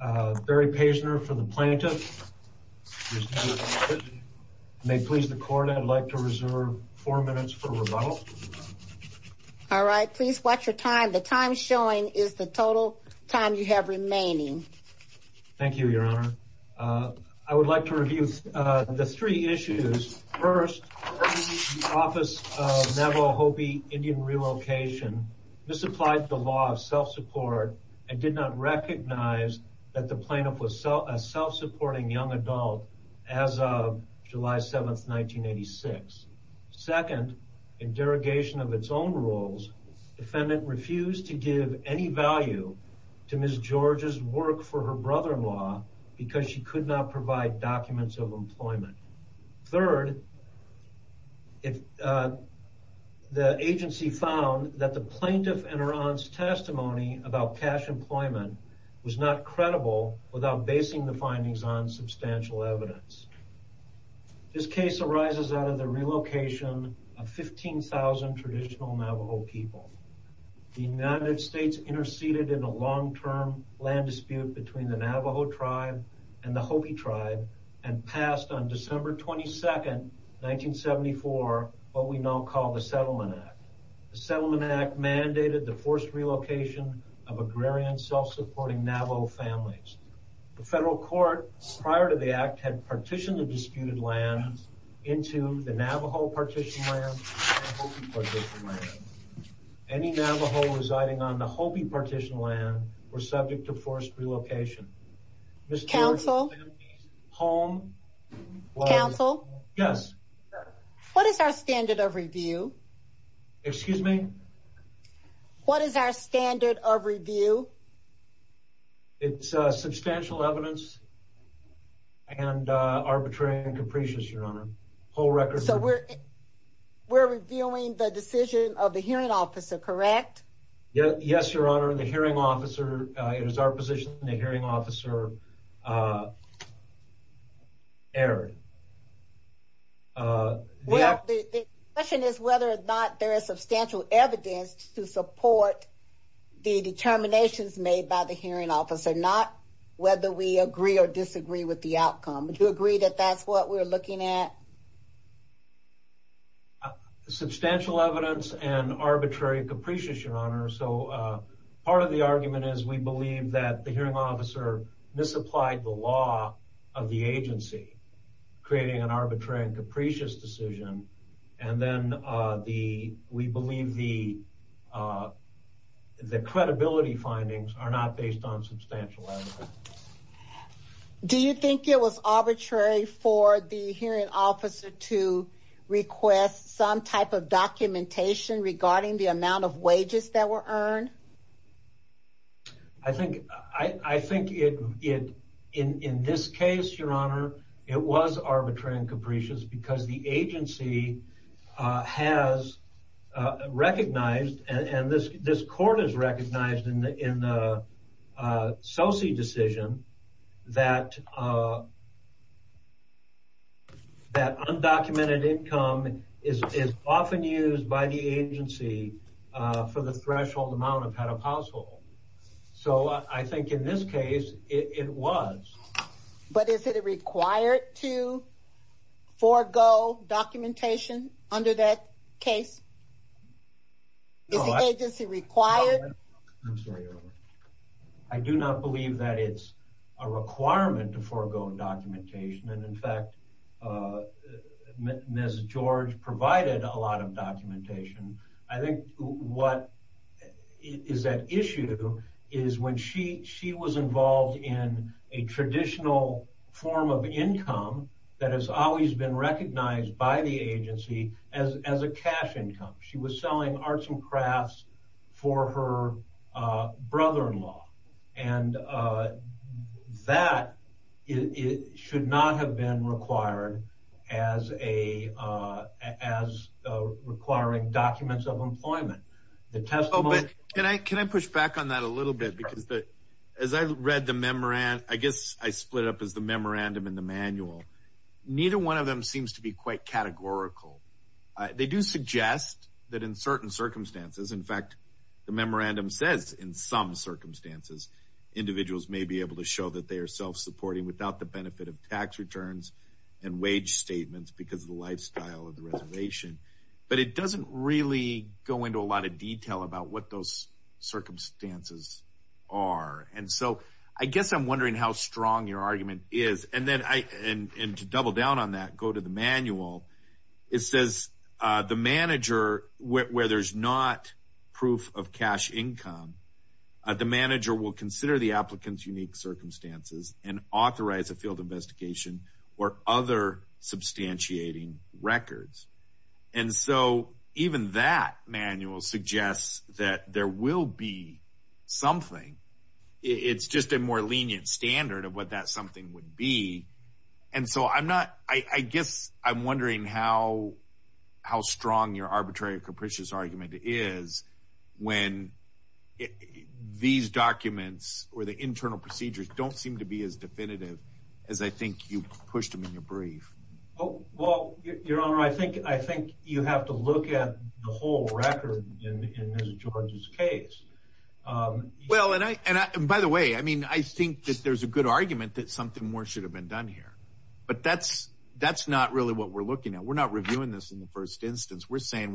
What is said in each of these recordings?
Relocation. Barry Paisner for the plaintiff. May it please the court, I'd like to reserve four minutes for rebuttal. All right, please watch your time. The time showing is the total time you have remaining. Thank you, Your Honor. I would like to review the three issues. First, the Office of Navajo & Hopi Indian Relocation misapplied the law of self-support and did not recognize that the plaintiff was a self-supporting young adult as of July 7, 1986. Second, in derogation of its own rules, defendant refused to give any value to Ms. George's work for her brother-in-law because she could not provide documents of employment. Third, the agency found that the plaintiff and her aunt's testimony about cash employment was not credible without basing the findings on substantial evidence. This case arises out of the relocation of 15,000 traditional Navajo people. The United States interceded in a long-term land dispute between the Navajo tribe and the Hopi tribe and passed on December 22, 1974, what we now call the Settlement Act. The Settlement Act mandated the forced relocation of agrarian self-supporting Navajo families. The federal court, prior to the Act, had partitioned the disputed land into the Navajo Partition Land and Hopi Partition Land. Any Navajo residing on the Hopi Partition Land were subject to forced relocation. Ms. George's family's home was- Counsel? Yes. What is our standard of review? Excuse me? What is our standard of review? It's substantial evidence and arbitrary and capricious, Your Honor. So we're reviewing the decision of the hearing officer, correct? Yes, Your Honor. The hearing officer, it is our position the hearing officer erred. The question is whether or not there is substantial evidence to support the determinations made by the hearing officer, not whether we agree or disagree with the outcome. Do you agree that that's what we're looking at? Substantial evidence and arbitrary and capricious, Your Honor. So part of the argument is we believe that the hearing officer misapplied the law of the agency, creating an arbitrary and capricious decision, and then we believe the credibility findings are not based on substantial evidence. Do you think it was arbitrary for the hearing officer to request some type of documentation regarding the amount of wages that were earned? I think in this case, Your Honor, it was arbitrary and capricious because the agency has recognized, and this court has recognized, in the Celsi decision that undocumented income is often used by the agency for the threshold amount of head of household. So I think in this case, it was. But is it required to forego documentation under that case? Is the agency required? I do not believe that it's a requirement to forego documentation, and in fact, Ms. George provided a lot of documentation. I think what is at issue is when she was involved in a traditional form of income that has always been recognized by the agency as a cash income. She was selling arts and crafts for her brother-in-law, and that should not have been required as requiring documents of employment. Can I push back on that a little bit? As I read the memorandum, I guess I split up the memorandum and the manual. Neither one of them seems to be quite categorical. They do suggest that in certain circumstances, in fact, the memorandum says in some circumstances, individuals may be able to show that they are self-supporting without the benefit of tax returns and wage statements because of the lifestyle of the reservation. But it doesn't really go into a lot of detail about those circumstances. I guess I'm wondering how strong your argument is. To double down on that, go to the manual. It says the manager, where there's not proof of cash income, the manager will consider the applicant's unique circumstances and authorize a field investigation or other substantiating records. And so even that manual suggests that there will be something. It's just a more lenient standard of what that something would be. And so I guess I'm wondering how strong your arbitrary or capricious argument is when these documents or the internal procedures don't seem to be as definitive as I think you pushed them in your brief. Well, Your Honor, I think you have to look at the whole record in Ms. George's case. Well, and by the way, I mean, I think that there's a good argument that something more should have been done here. But that's not really what we're looking at. We're not reviewing this in the first instance. We're saying,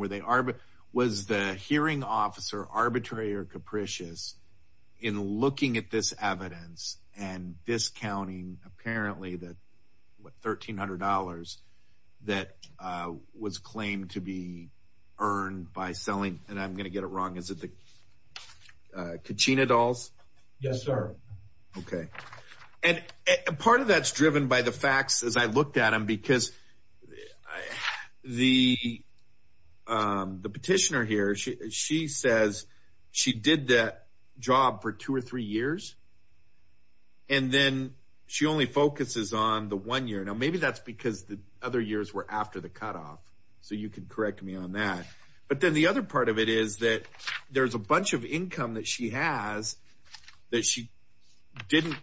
was the hearing officer arbitrary or capricious in looking at this evidence and discounting apparently the $1,300 that was claimed to be earned by selling? And I'm going to get it wrong. Is it the kachina dolls? Yes, sir. Okay. And part of that's driven by the facts as I looked at them because I the petitioner here, she says she did that job for two or three years. And then she only focuses on the one year. Now, maybe that's because the other years were after the cutoff. So you could correct me on that. But then the other part of it is that there's a bunch of income that she has that she didn't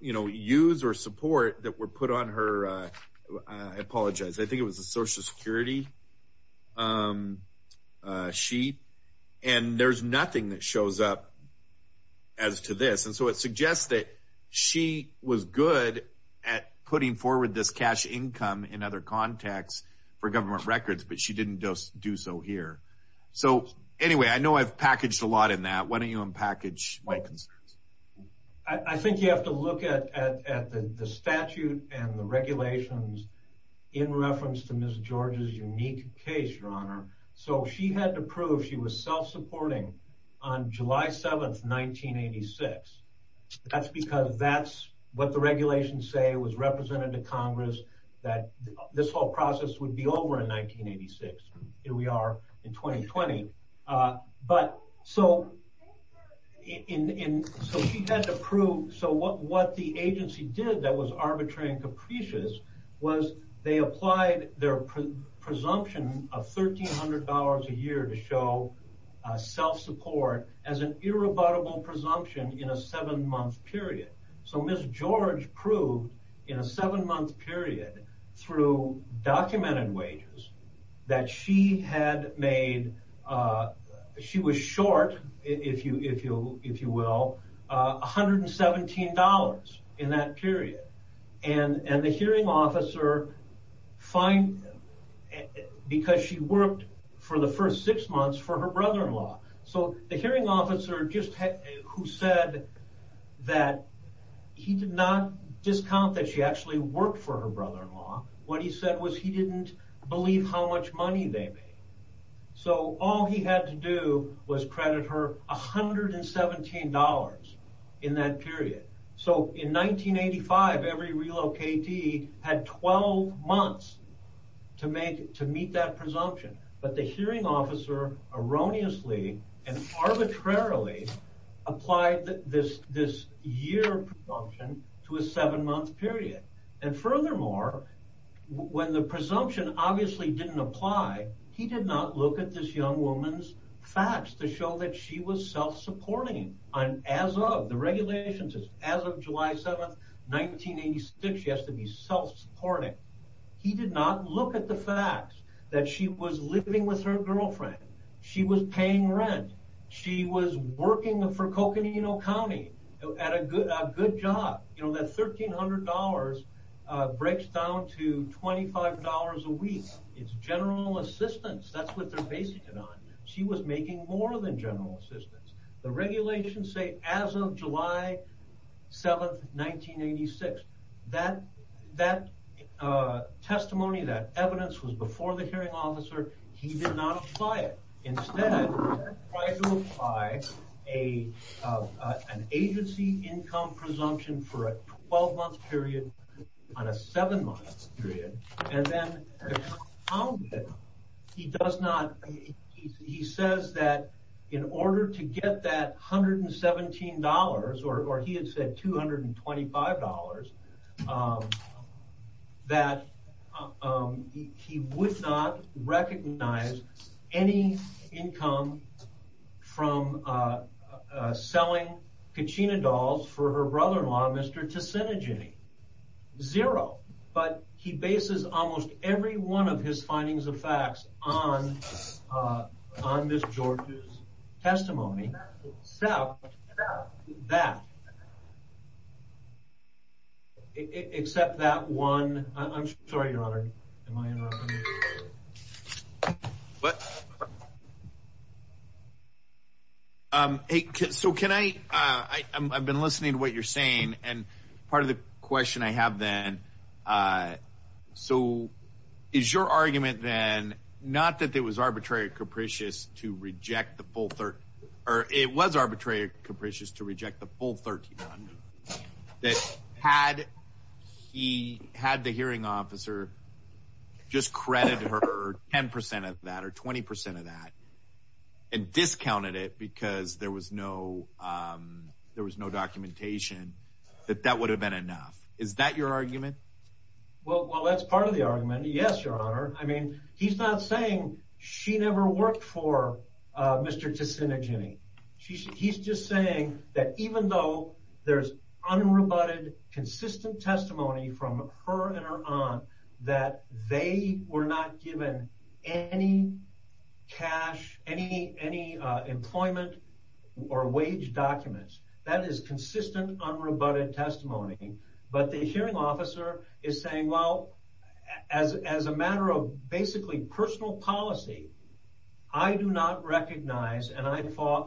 use or support that were put on her. I apologize. I think it was a social security sheet. And there's nothing that shows up as to this. And so it suggests that she was good at putting forward this cash income in other contexts for government records, but she didn't just do so here. So anyway, I know I've packaged a lot in that. Why don't you unpackage my concerns? I think you have to look at the statute and the regulations in reference to Ms. George's unique case, your honor. So she had to prove she was self-supporting on July 7th, 1986. That's because that's what the regulations say was represented to Congress that this whole process would be over in 1986. Here we are in 2020. But so she had to prove. So what the agency did that was arbitrary and capricious was they applied their presumption of $1,300 a year to show self-support as an irrebuttable presumption in a seven-month period. So Ms. George proved in a seven-month period through documented wages that she had made, she was short, if you will, $117 in that period. And the hearing officer because she worked for the first six months for her brother-in-law. So the hearing officer who said that he did not discount that she actually worked for her brother-in-law. What he said was he didn't believe how much money they made. So all he had to do was credit her $117 in that period. So in 1985, every relocatee had 12 months to meet that presumption. But the hearing officer erroneously and arbitrarily applied this year presumption to a seven-month period. And furthermore, when the presumption obviously didn't apply, he did not look at this young woman's facts to show that she was self-supporting on as of the regulations as of July 7th, 1986. She has to be self-supporting. He did not look at the fact that she was living with her girlfriend. She was paying rent. She was working for Coconino County at a good job. You know, that $1,300 breaks down to $25 a week. It's general assistance. That's what they're basing it on. She was making more than general assistance. The regulations say as of July 7th, 1986. That testimony, that evidence was before the hearing officer. He did not apply it. Instead, tried to apply an agency income presumption for a 12-month period on a seven-month period. And then he says that in order to get that $117, or he had said $225, that he would not recognize any income from selling kachina dolls for her brother-in-law, Mr. Ticinagini. Zero. But he bases almost every one of his findings and facts on Ms. George's testimony, except that one. I'm sorry, Your Honor. Am I interrupting you? I've been listening to what you're saying. And part of the question I have then, so is your argument then, not that it was arbitrary or capricious to reject the full $1,300, or it was arbitrary or capricious to reject the full $1,300, that had he had the hearing officer just credit her 10% of that or 20% of that and discounted it because there was no documentation, that that would have been enough? Is that your argument? Well, that's part of the argument. Yes, Your Honor. I mean, he's not saying she never worked for Mr. Ticinagini. He's just saying that even though there's unrebutted, consistent testimony from her and her aunt that they were not given any cash, any employment or wage documents, that is consistent, unrebutted testimony. But the hearing officer is saying, well, as a matter of basically personal policy, I do not recognize and I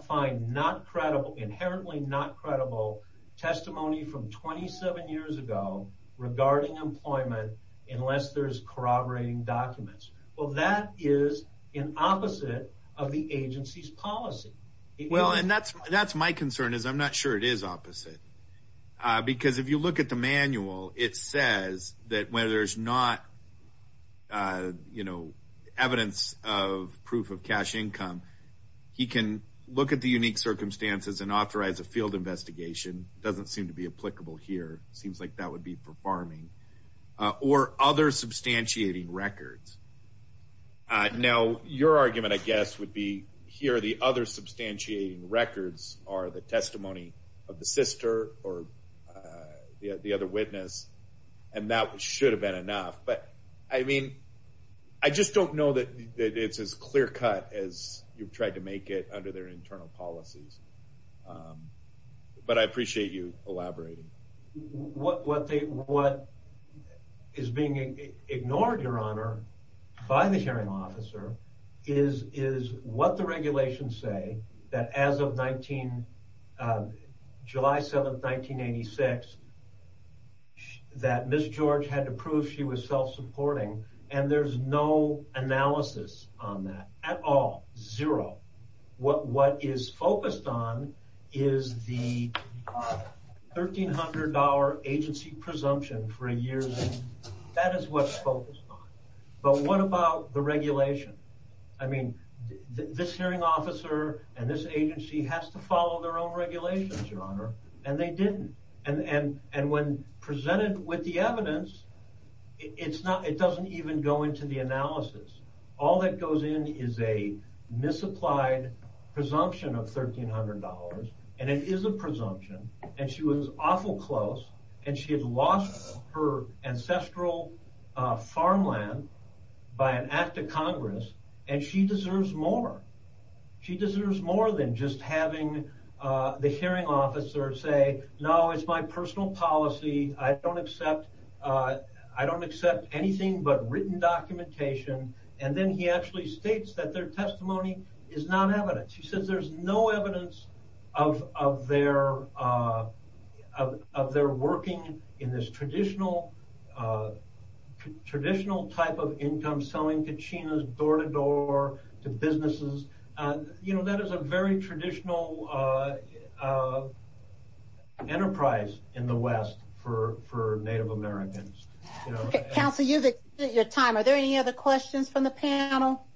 find not credible, inherently not credible, testimony from 27 years ago regarding employment, unless there's corroborating documents. Well, that is an opposite of the agency's policy. Well, and that's my concern is I'm not sure it is opposite. Because if you look at the manual, it says that when there's not, you know, evidence of proof of cash income, he can look at the unique circumstances and authorize a field investigation. Doesn't seem to be applicable here. Seems like that would be for farming or other substantiating records. Now, your argument, I guess, would be here. The other substantiating records are the testimony of the sister or the other witness. And that should have been enough. But I mean, I just don't know that it's as clear cut as you've tried to make it under their internal policies. But I appreciate you elaborating. What is being ignored, Your Honor, by the hearing officer is what the regulations say that as of July 7th, 1986, that Ms. George had to prove she was self-supporting. And there's no analysis on that at all. Zero. What is focused on is the $1,300 agency presumption for a year. That is what's focused on. But what about the regulation? I mean, this hearing officer and this agency has to follow their own and when presented with the evidence, it's not, it doesn't even go into the analysis. All that goes in is a misapplied presumption of $1,300. And it is a presumption. And she was awful close. And she had lost her ancestral farmland by an act of Congress. And she deserves more. She deserves more than just having the hearing officer say, no, it's my personal policy. I don't accept, I don't accept anything but written documentation. And then he actually states that their testimony is not evidence. He says there's no evidence of their working in this traditional type of income selling to Chinas, door-to-door to businesses. You know, that is a very traditional enterprise in the West for Native Americans. Counselor, you've exceeded your time. Are there any other questions from the panel?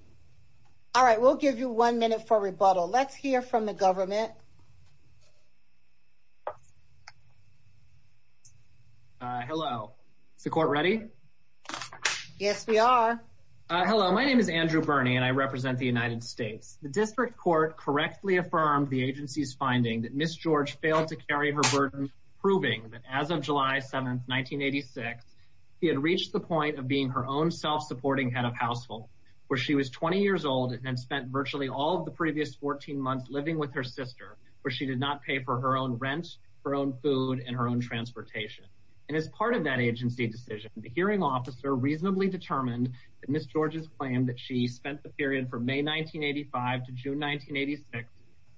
All right. We'll give you one minute for rebuttal. Let's hear from the government. Hello, is the court ready? Yes, we are. Hello, my name is Andrew Bernie and I represent the United States. The district court correctly affirmed the agency's finding that Ms. George failed to carry her burden, proving that as of July 7th, 1986, he had reached the point of being her own self-supporting head of household, where she was 20 years old and spent virtually all of the previous 14 months living with her sister, where she did not pay for her own rent, her own transportation. And as part of that agency decision, the hearing officer reasonably determined that Ms. George's claim that she spent the period from May 1985 to June 1986,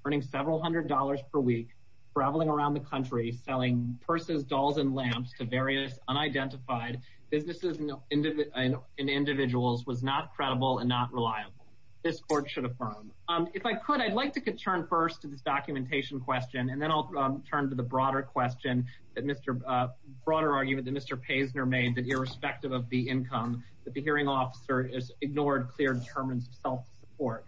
earning several hundred dollars per week, traveling around the country selling purses, dolls, and lamps to various unidentified businesses and individuals was not credible and not reliable. This court should affirm. If I could, I'd like to turn first to this documentation question and then I'll turn to the broader argument that Mr. Paisner made that irrespective of the income, that the hearing officer has ignored clear determinants of self-support.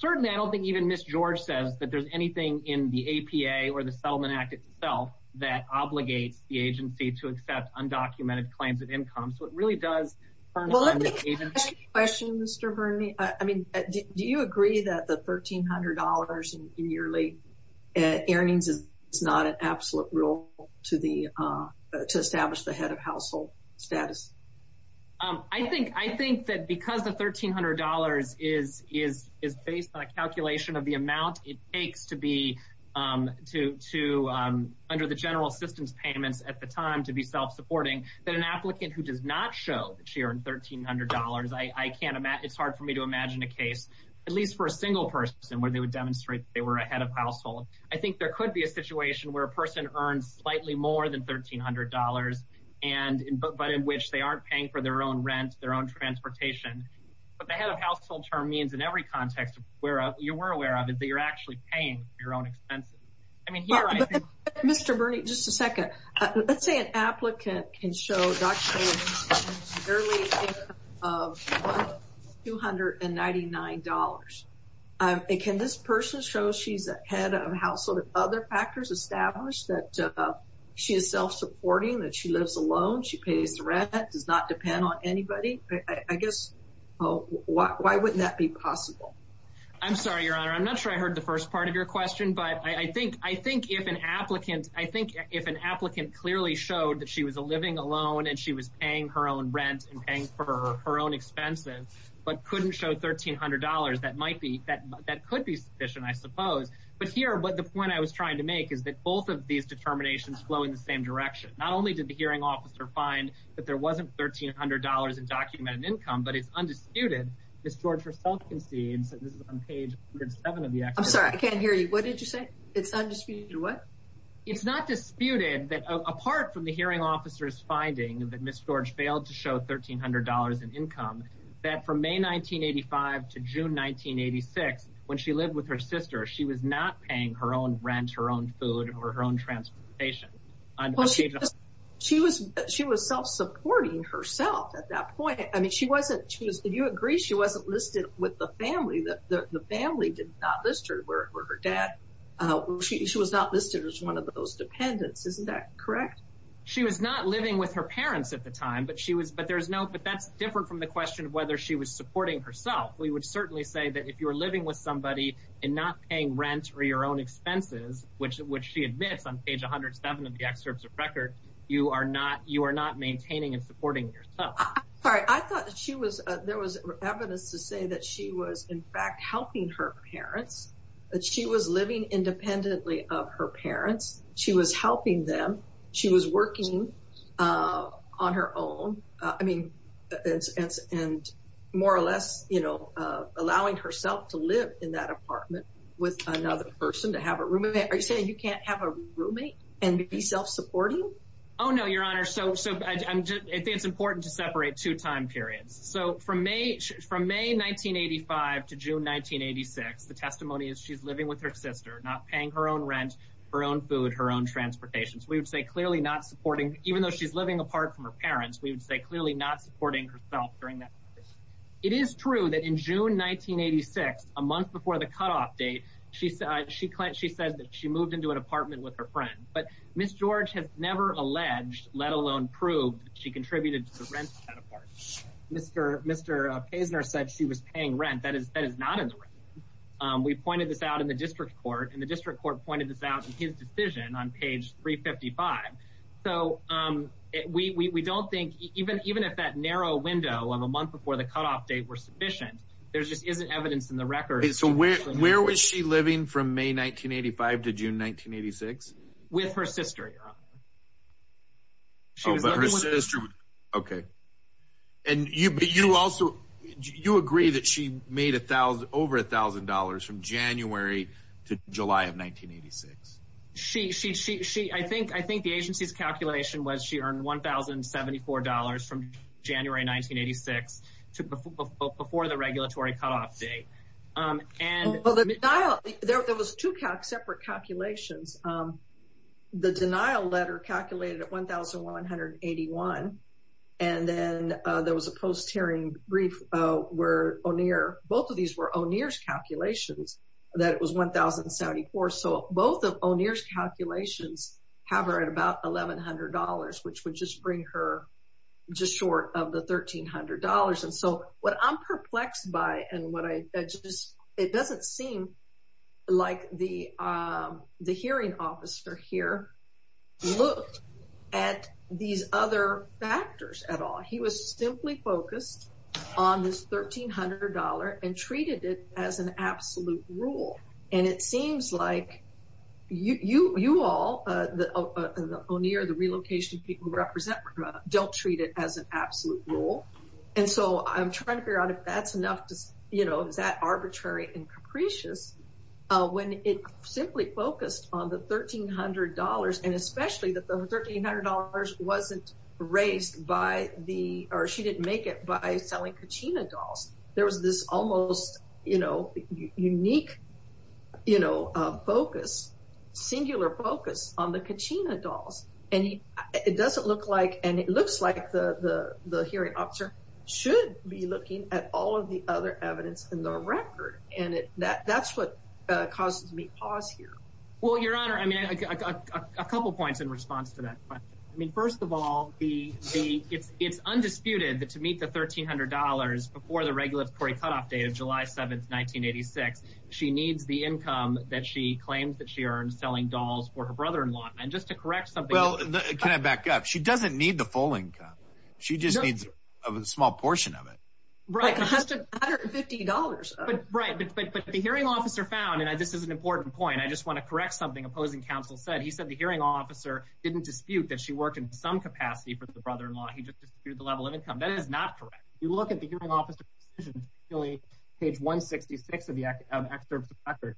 Certainly, I don't think even Ms. George says that there's anything in the APA or the Settlement Act itself that obligates the agency to accept undocumented claims of income, so it really does. Well, let me ask a question, Mr. Bernie. I mean, do you agree that the $1,300 in yearly earnings is not an absolute rule to establish the head of household status? I think that because the $1,300 is based on a calculation of the amount it takes under the general assistance payments at the time to be self-supporting, that an applicant who does not show that she earned $1,300, it's hard for me to imagine a case, at least for a single person, where they would demonstrate that they were a head of household. I think there could be a situation where a person earns slightly more than $1,300, but in which they aren't paying for their own rent, their own transportation, but the head of household term means in every context where you were aware of is that you're actually paying your own expenses. Mr. Bernie, just a early income of $1,299. Can this person show she's a head of household and other factors established that she is self-supporting, that she lives alone, she pays the rent, that does not depend on anybody? I guess, why wouldn't that be possible? I'm sorry, Your Honor. I'm not sure I heard the first part of your question, but I think if an applicant clearly showed that she was a living alone and she was paying her own rent and paying for her own expenses, but couldn't show $1,300, that might be, that could be sufficient, I suppose. But here, the point I was trying to make is that both of these determinations flow in the same direction. Not only did the hearing officer find that there wasn't $1,300 in documented income, but it's undisputed. Ms. George herself concedes, and this is on page 107 of the act. I'm sorry, I can't hear you. What did you say? It's undisputed what? It's not disputed that apart from the hearing officer's finding that Ms. George failed to show $1,300 in income, that from May 1985 to June 1986, when she lived with her sister, she was not paying her own rent, her own food, or her own transportation. She was self-supporting herself at that point. I mean, she wasn't, you agree she wasn't listed with the family, that the family did not list her, where her dad, she was not listed as one of those dependents, isn't that correct? She was not living with her parents at the time, but she was, but there's no, but that's different from the question of whether she was supporting herself. We would certainly say that if you're living with somebody and not paying rent or your own expenses, which she admits on page 107 of the excerpts of record, you are not, you are not maintaining and supporting yourself. All right. I thought that she was, there was evidence to say that she was in fact helping her parents, that she was living independently of her parents. She was helping them. She was working on her own. I mean, and more or less, you know, allowing herself to live in that apartment with another person, to have a roommate. Are you saying you can't have a roommate and be self-supporting? Oh, no, your honor. So, so I'm just, I think it's important to separate two time periods. So from May, from May, 1985 to June, 1986, the testimony is she's living with her sister, not paying her own rent, her own food, her own transportation. So we would say clearly not supporting, even though she's living apart from her parents, we would say clearly not supporting herself during that. It is true that in June, 1986, a month before the cutoff date, she said, she claimed, she said that she moved into an apartment with her friend, but Ms. George has never alleged, let alone proved that she contributed to the rent of that apartment. Mr. Paisner said she was paying rent. That is not in the record. We pointed this out in the district court and the district court pointed this out in his decision on page 355. So we don't think, even if that narrow window of a month before the cutoff date were sufficient, there just isn't evidence in the record. So where, where was she living from May, 1985 to June, 1986? With her sister. Okay. And you, but you also, you agree that she made a thousand, over a thousand dollars from January to July of 1986. She, she, she, she, I think, I think the agency's calculation was she and there was two separate calculations. The denial letter calculated at 1,181. And then there was a post hearing brief where O'Neill, both of these were O'Neill's calculations that it was 1,074. So both of O'Neill's calculations have her at about $1,100, which would just bring her just short of the $1,300. And so what I'm perplexed by, and what I just, it doesn't seem like the, the hearing officer here looked at these other factors at all. He was simply focused on this $1,300 and treated it as an absolute rule. And it seems like you, you, you all, the O'Neill, the relocation people represent don't treat it as an absolute rule. And so I'm trying to figure out if that's enough to, you know, is that arbitrary and capricious when it simply focused on the $1,300 and especially that the $1,300 wasn't raised by the, or she didn't make it by selling Kachina dolls. There was this almost, you know, unique, you know, focus, singular focus on the Kachina dolls. And it doesn't look like, and it looks like the, the, the hearing officer should be looking at all of the other evidence in the record. And it, that, that's what causes me pause here. Well, your honor, I mean, I got a couple of points in response to that question. I mean, first of all, the, the, it's, it's undisputed that to meet the $1,300 before the regulatory cutoff date of July 7th, 1986, she needs the income that she claims that she earned selling dolls for her brother-in-law. And just to correct something. Well, can I back up? She doesn't need the full income. She just needs a small portion of it. Right. $150. Right. But, but, but the hearing officer found, and I, this is an important point. I just want to correct something opposing counsel said. He said the hearing officer didn't dispute that she worked in some capacity for the brother-in-law. He just disputed the level of income. That is not correct. You look at the hearing officer's decision, page 166 of the excerpts of record.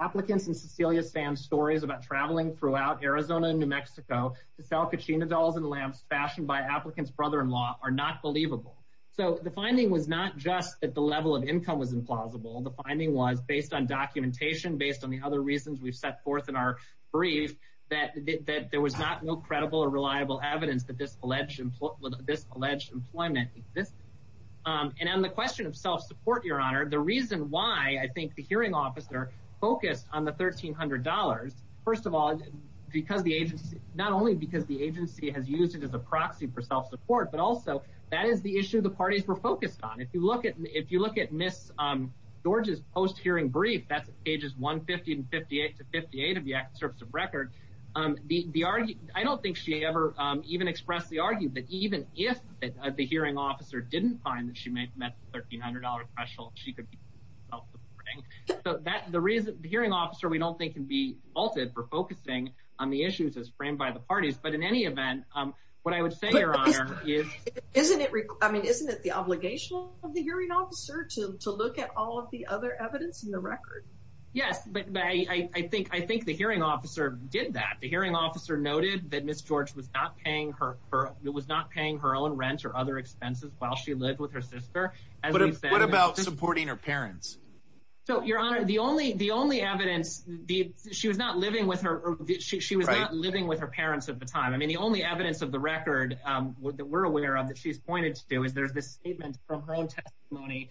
Applicants and Cecilia Sam stories about traveling throughout Arizona and New Mexico to sell kachina dolls and lamps fashioned by applicants, brother-in-law are not believable. So the finding was not just that the level of income was implausible. The finding was based on documentation, based on the other reasons we've set forth in our brief that, that there was not no credible or reliable evidence that this alleged, this alleged employment exists. And on the question of self-support, your honor, the reason why I think the hearing officer focused on the $1,300, first of all, because the agency, not only because the agency has used it as a proxy for self-support, but also that is the issue the parties were focused on. If you look at, if you look at Ms. George's post hearing brief, that's pages 150 and 58 to 58 of the excerpts of record. The, the, I don't think she ever even expressed the argument that even if the hearing officer didn't find that she may have met the $1,300 threshold, she could. Okay. So that, the reason the hearing officer, we don't think can be faulted for focusing on the issues as framed by the parties, but in any event, what I would say, your honor, isn't it, I mean, isn't it the obligation of the hearing officer to look at all of the other evidence in the record? Yes, but I think, I think the hearing officer did that. The hearing officer noted that Ms. George was not paying her, her, it was not paying her own rent or other expenses while she lived with her sister. What about supporting her parents? So your honor, the only, the only evidence, the, she was not living with her. She was not living with her parents at the time. I mean, the only evidence of the record that we're aware of that she's pointed to do is there's this statement from her own testimony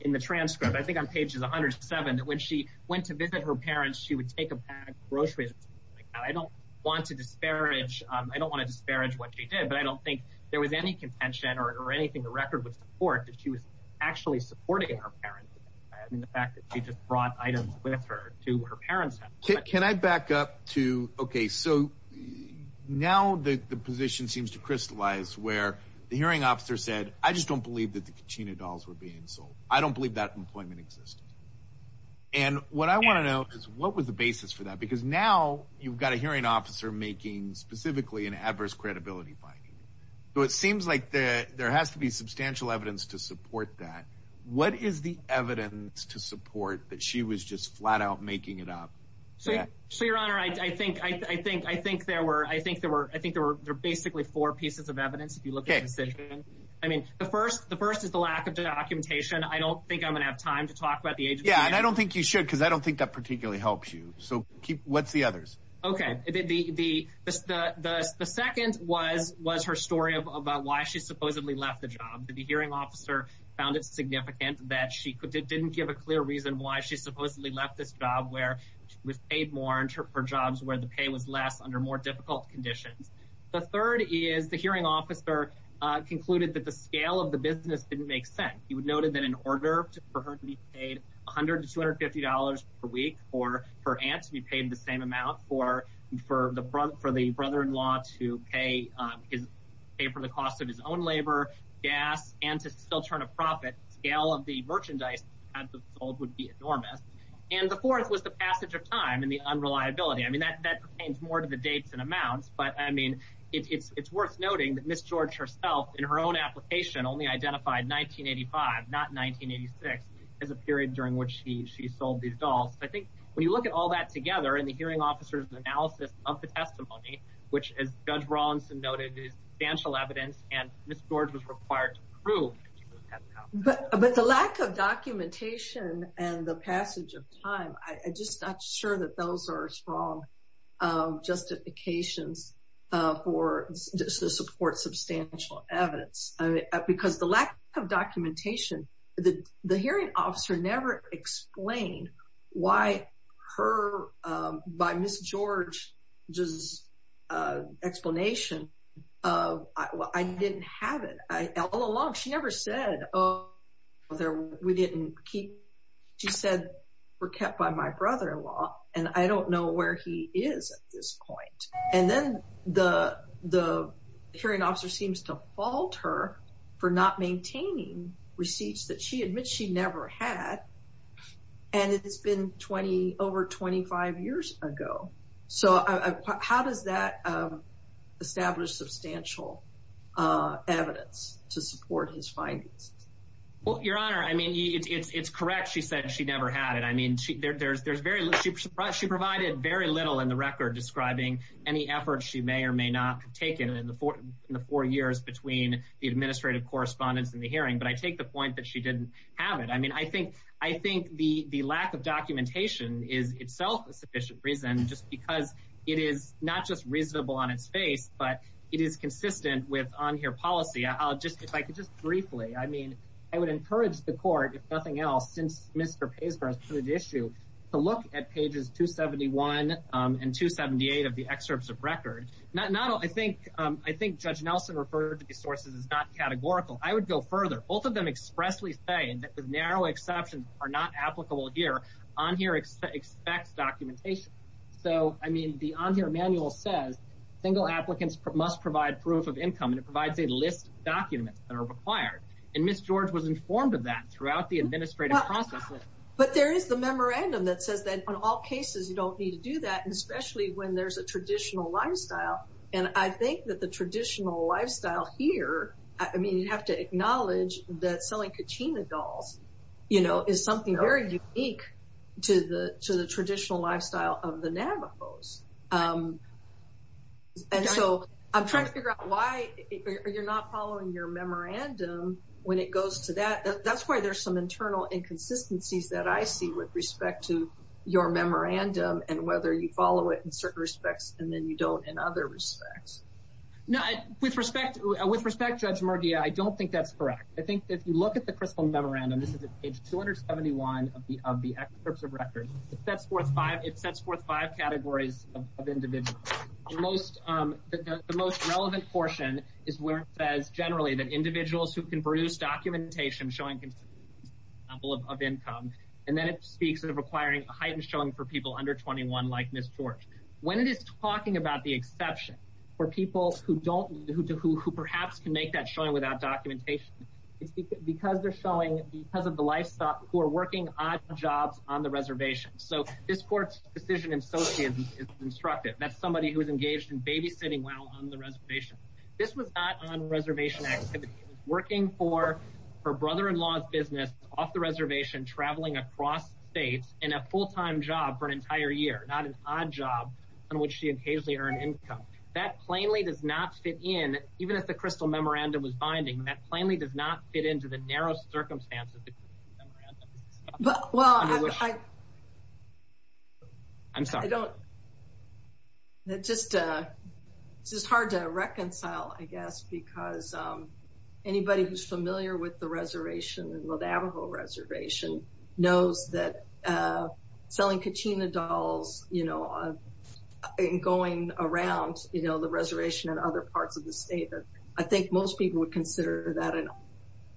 in the transcript, I think on pages 107, that when she went to visit her parents, she would take a bag of groceries. I don't want to disparage, I don't want to disparage what she did, but I don't think there was any contention or anything the record would support that she was actually supporting her parents in the fact that she just brought items with her to her parents. Can I back up to, okay, so now the, the position seems to crystallize where the hearing officer said, I just don't believe that the kachina dolls were being sold. I don't believe that employment existed. And what I want to know is what was the basis for that? Because now you've got a hearing officer making specifically an adverse credibility finding. So it seems like the, there has to be substantial evidence to support that. What is the evidence to support that she was just flat out making it up? So, so your honor, I think, I think, I think there were, I think there were, I think there were basically four pieces of evidence. If you look at the decision, I mean, the first, the first is the lack of documentation. I don't think I'm going to have time to talk about the agency. Yeah. And I don't think you should, cause I don't think that particularly helps you. So keep, what's the others? Okay. The, the, the, the, the, the second was, was her story of about why she supposedly left the job. The hearing officer found it significant that she didn't give a clear reason why she supposedly left this job where she was paid more and her jobs where the pay was less under more difficult conditions. The third is the hearing officer concluded that the scale of the business didn't make sense. He would noted that in order for her to be paid a hundred to $250 per week, or her aunt to be paid the same amount for, for the front, for the brother-in-law to pay his pay for the cost of his own labor gas and to still turn a profit scale of the merchandise sold would be enormous. And the fourth was the passage of time and the unreliability. I mean, that, that pertains more to the dates and amounts, but I mean, it's, it's, it's worth noting that Ms. George herself in her own application only identified 1985, not 1986 as a period during which she, she sold these dolls. I think when you look at all that together and the hearing officer's analysis of the testimony, which as judge Rawlinson noted is substantial evidence and Ms. George was required to prove. But the lack of documentation and the passage of time, I just not sure that those are strong justifications for just to support substantial evidence. I mean, because the lack of documentation, the hearing officer never explained why her, by Ms. George's explanation, I didn't have it all along. She never said, we didn't keep, she said were kept by my brother-in-law and I don't know where he is at And then the, the hearing officer seems to fault her for not maintaining receipts that she admits she never had. And it's been 20 over 25 years ago. So how does that establish substantial evidence to support his findings? Well, your honor, I mean, it's, it's, it's correct. She said she never had it. I mean, there's, there's very little, she provided very little in the record describing any efforts she may or may not have taken in the four years between the administrative correspondence and the hearing. But I take the point that she didn't have it. I mean, I think, I think the, the lack of documentation is itself a sufficient reason just because it is not just reasonable on its face, but it is consistent with on here policy. I'll just, if I could just briefly, I mean, I would encourage the court if nothing else, since Mr. Paisper has put it to issue to look at pages 271 and 278 of the excerpts of record, not, not all. I think, I think judge Nelson referred to the sources is not categorical. I would go further. Both of them expressly say that with narrow exceptions are not applicable here on here expects documentation. So I mean, the on here manual says single applicants must provide proof of income and it provides a list documents that are required. And Ms. George was informed of that throughout the administrative process. But there is the memorandum that says that on all cases, you don't need to do that. And especially when there's a traditional lifestyle. And I think that the traditional lifestyle here, I mean, you have to acknowledge that selling kachina dolls, you know, is something very unique to the, to the traditional lifestyle of the Navajos. And so I'm trying to figure out why you're not following your memorandum when it goes to that. That's why there's some internal inconsistencies that I see with respect to your memorandum and whether you follow it in certain respects and then you don't in other respects. No, I, with respect, with respect, Judge Mardia, I don't think that's correct. I think that if you look at the crystal memorandum, this is page 271 of the, of the excerpts of record. If that's worth five, it sets forth five categories of individuals. The most, the most relevant portion is where it says generally that individuals who can produce documentation showing a consistent level of income, and then it speaks of requiring a heightened showing for people under 21 like Ms. George. When it is talking about the exception for people who don't, who perhaps can make that showing without documentation, it's because they're showing, because of the lifestyle, who are working odd jobs on the That's somebody who is engaged in babysitting while on the reservation. This was not on reservation activity. It was working for her brother-in-law's business off the reservation, traveling across states in a full-time job for an entire year, not an odd job on which she occasionally earned income. That plainly does not fit in, even if the crystal memorandum was binding, that plainly does not fit into the narrow circumstances. Well, I, I'm sorry. I don't, it's just, it's just hard to reconcile, I guess, because anybody who's familiar with the reservation and the Navajo reservation knows that selling kachina dolls, you know, and going around, you know, the reservation and other parts of the state, I think most people would consider that an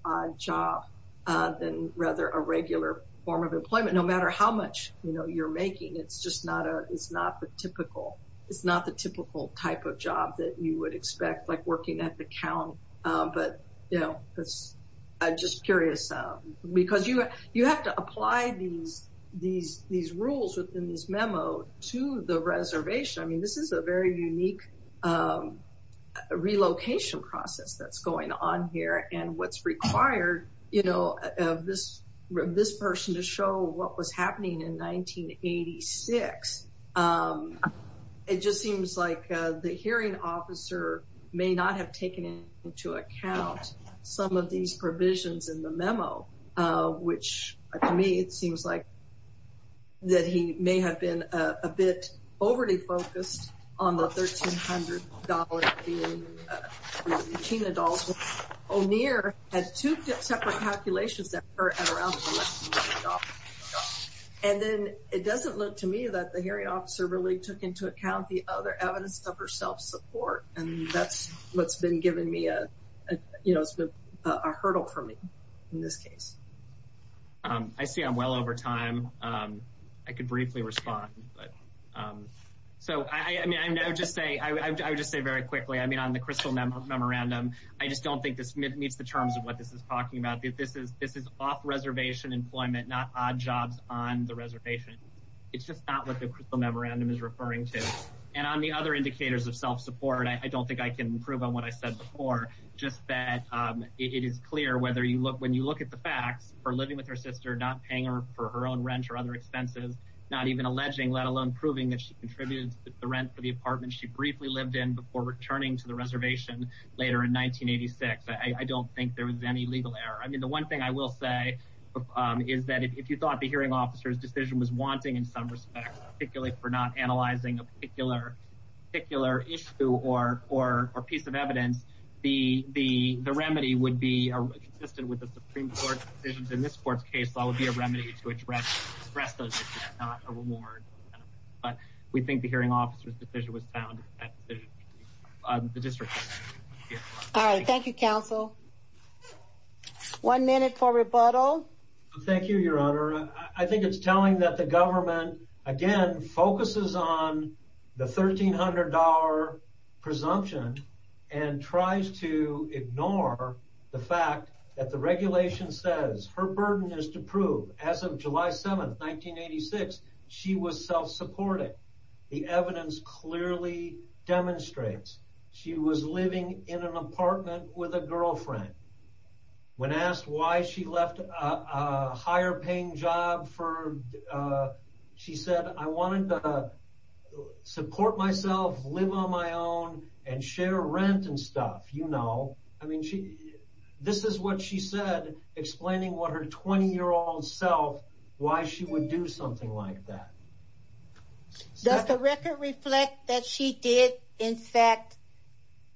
odd job than rather a regular form of employment, no matter how much, you know, you're making. It's just not a, it's not the typical, it's not the typical type of job that you would expect, like working at the count. But, you know, that's, I'm just curious, because you, you have to apply these, these, these rules within this memo to the reservation. I mean, this is a very unique relocation process that's going on here. And what's required, you know, of this, this person to show what was happening in 1986. It just seems like the hearing officer may not have taken into account some of these provisions in the memo, which to me, it seems like that he may have been a bit overly focused on the $1,300 kachina dolls. O'Neill had two separate calculations that were around. And then it doesn't look to me that the hearing officer really took into account the other evidence of her self-support. And that's what's been giving me a, you know, it's been a hurdle for me in this case. I see I'm well over time. I could briefly respond, but, so, I mean, I would just say, I would just say very quickly, I mean, on the Crystal Memorandum, I just don't think this meets the terms of what this is talking about. This is, this is off-reservation employment, not odd jobs on the reservation. It's just not what the Crystal Memorandum is referring to. And on the other indicators of self-support, I don't think I can improve on what I said before, just that it is clear whether you look, when you look at the facts for living with her sister, not paying her for her own rent or other expenses, not even alleging, let alone proving that she contributed to the rent for the apartment she briefly lived in before returning to the reservation later in 1986. I don't think there was any legal error. I mean, the one thing I will say is that if you thought the hearing officer's decision was wanting in some respects, for not analyzing a particular issue or piece of evidence, the remedy would be consistent with the Supreme Court's decisions in this court's case. That would be a remedy to address those issues, not a reward. But we think the hearing officer's decision was sound. All right. Thank you, counsel. One minute for rebuttal. Thank you, Your Honor. I think it's telling that the government, again, focuses on the $1,300 presumption and tries to ignore the fact that the regulation says her burden is to prove, as of July 7th, 1986, she was self-supporting. The evidence clearly demonstrates she was living in an apartment with a girlfriend. When asked why she left a higher-paying job, she said, I wanted to support myself, live on my own, and share rent and stuff, you know. This is what she said, explaining what her 20-year-old self, why she would do something like that. Does the record reflect that she did, in fact,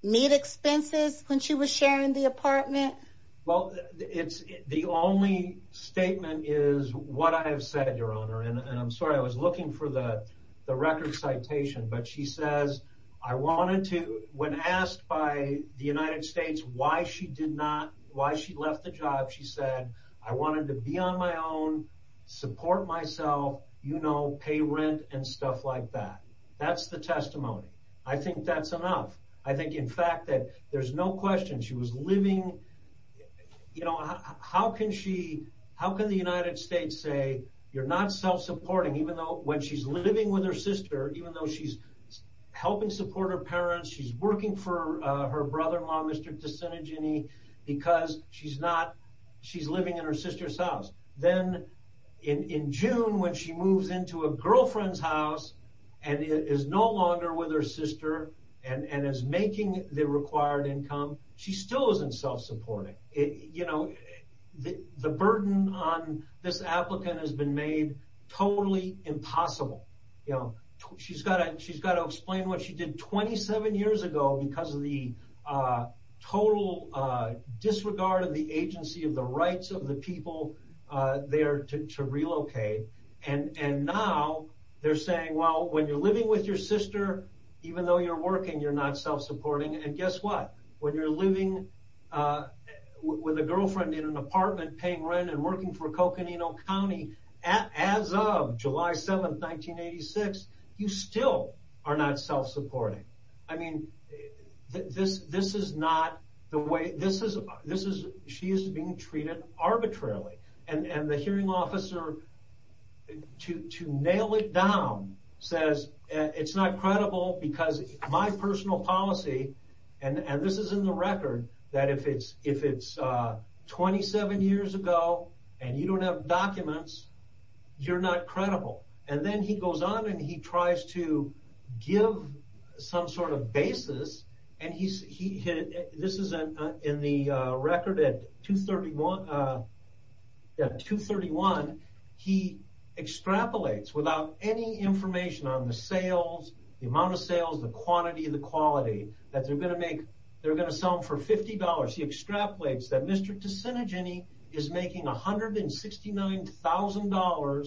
meet expenses when she was sharing the apartment? Well, the only statement is what I have said, Your Honor. And I'm sorry, I was looking for the record citation. But she says, when asked by the United States why she left the job, she said, I wanted to be on my own, support myself, you know, pay rent and stuff like that. That's the testimony. I think that's enough. I think, in fact, that there's no question she was living, you know, how can she, how can the United States say, you're not self-supporting, even though when she's living with her sister, even though she's helping support her parents, she's working for her brother-in-law, Mr. Sister's house. Then in June, when she moves into a girlfriend's house, and is no longer with her sister, and is making the required income, she still isn't self-supporting. You know, the burden on this applicant has been made totally impossible. You know, she's got to explain what she did 27 years ago, because of the total disregard of the agency, of the rights of the people there to relocate. And now they're saying, well, when you're living with your sister, even though you're working, you're not self-supporting. And guess what? When you're living with a girlfriend in an apartment, paying rent and working for Coconino County, as of July 7, 1986, you still are not self-supporting. I mean, this is not the way, this is, she is being treated arbitrarily. And the hearing officer, to nail it down, says it's not credible because my personal policy, and this is in the record, that if it's 27 years ago, and you don't have documents, you're not credible. And then he goes on and he tries to give some sort of basis, and this is in the record at 231, he extrapolates without any information on the sales, the amount of sales, the quantity, the quality, that they're going to sell him for $50. He is making $169,000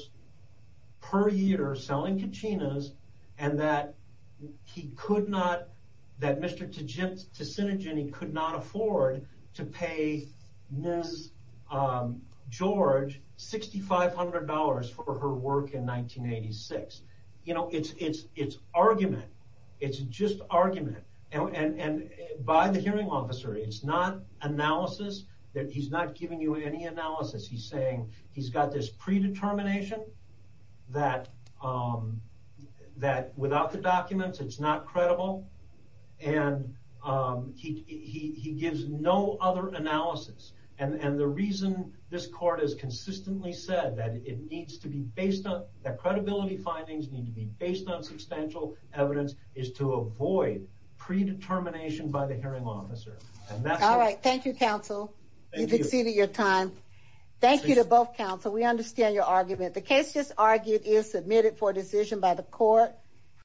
per year selling kachinas, and that he could not, that Mr. Ticinogini could not afford to pay Ms. George $6,500 for her work in 1986. You know, it's argument, it's just argument, and by the hearing officer, it's not analysis, he's not giving you any analysis. He's saying he's got this predetermination that without the documents it's not credible, and he gives no other analysis. And the reason this court has consistently said that it needs to be based on, that credibility findings need to be based on substantial evidence, is to avoid predetermination by the hearing officer. All right, thank you counsel, you've exceeded your time. Thank you to both counsel, we understand your argument. The case just argued is submitted for decision by the court.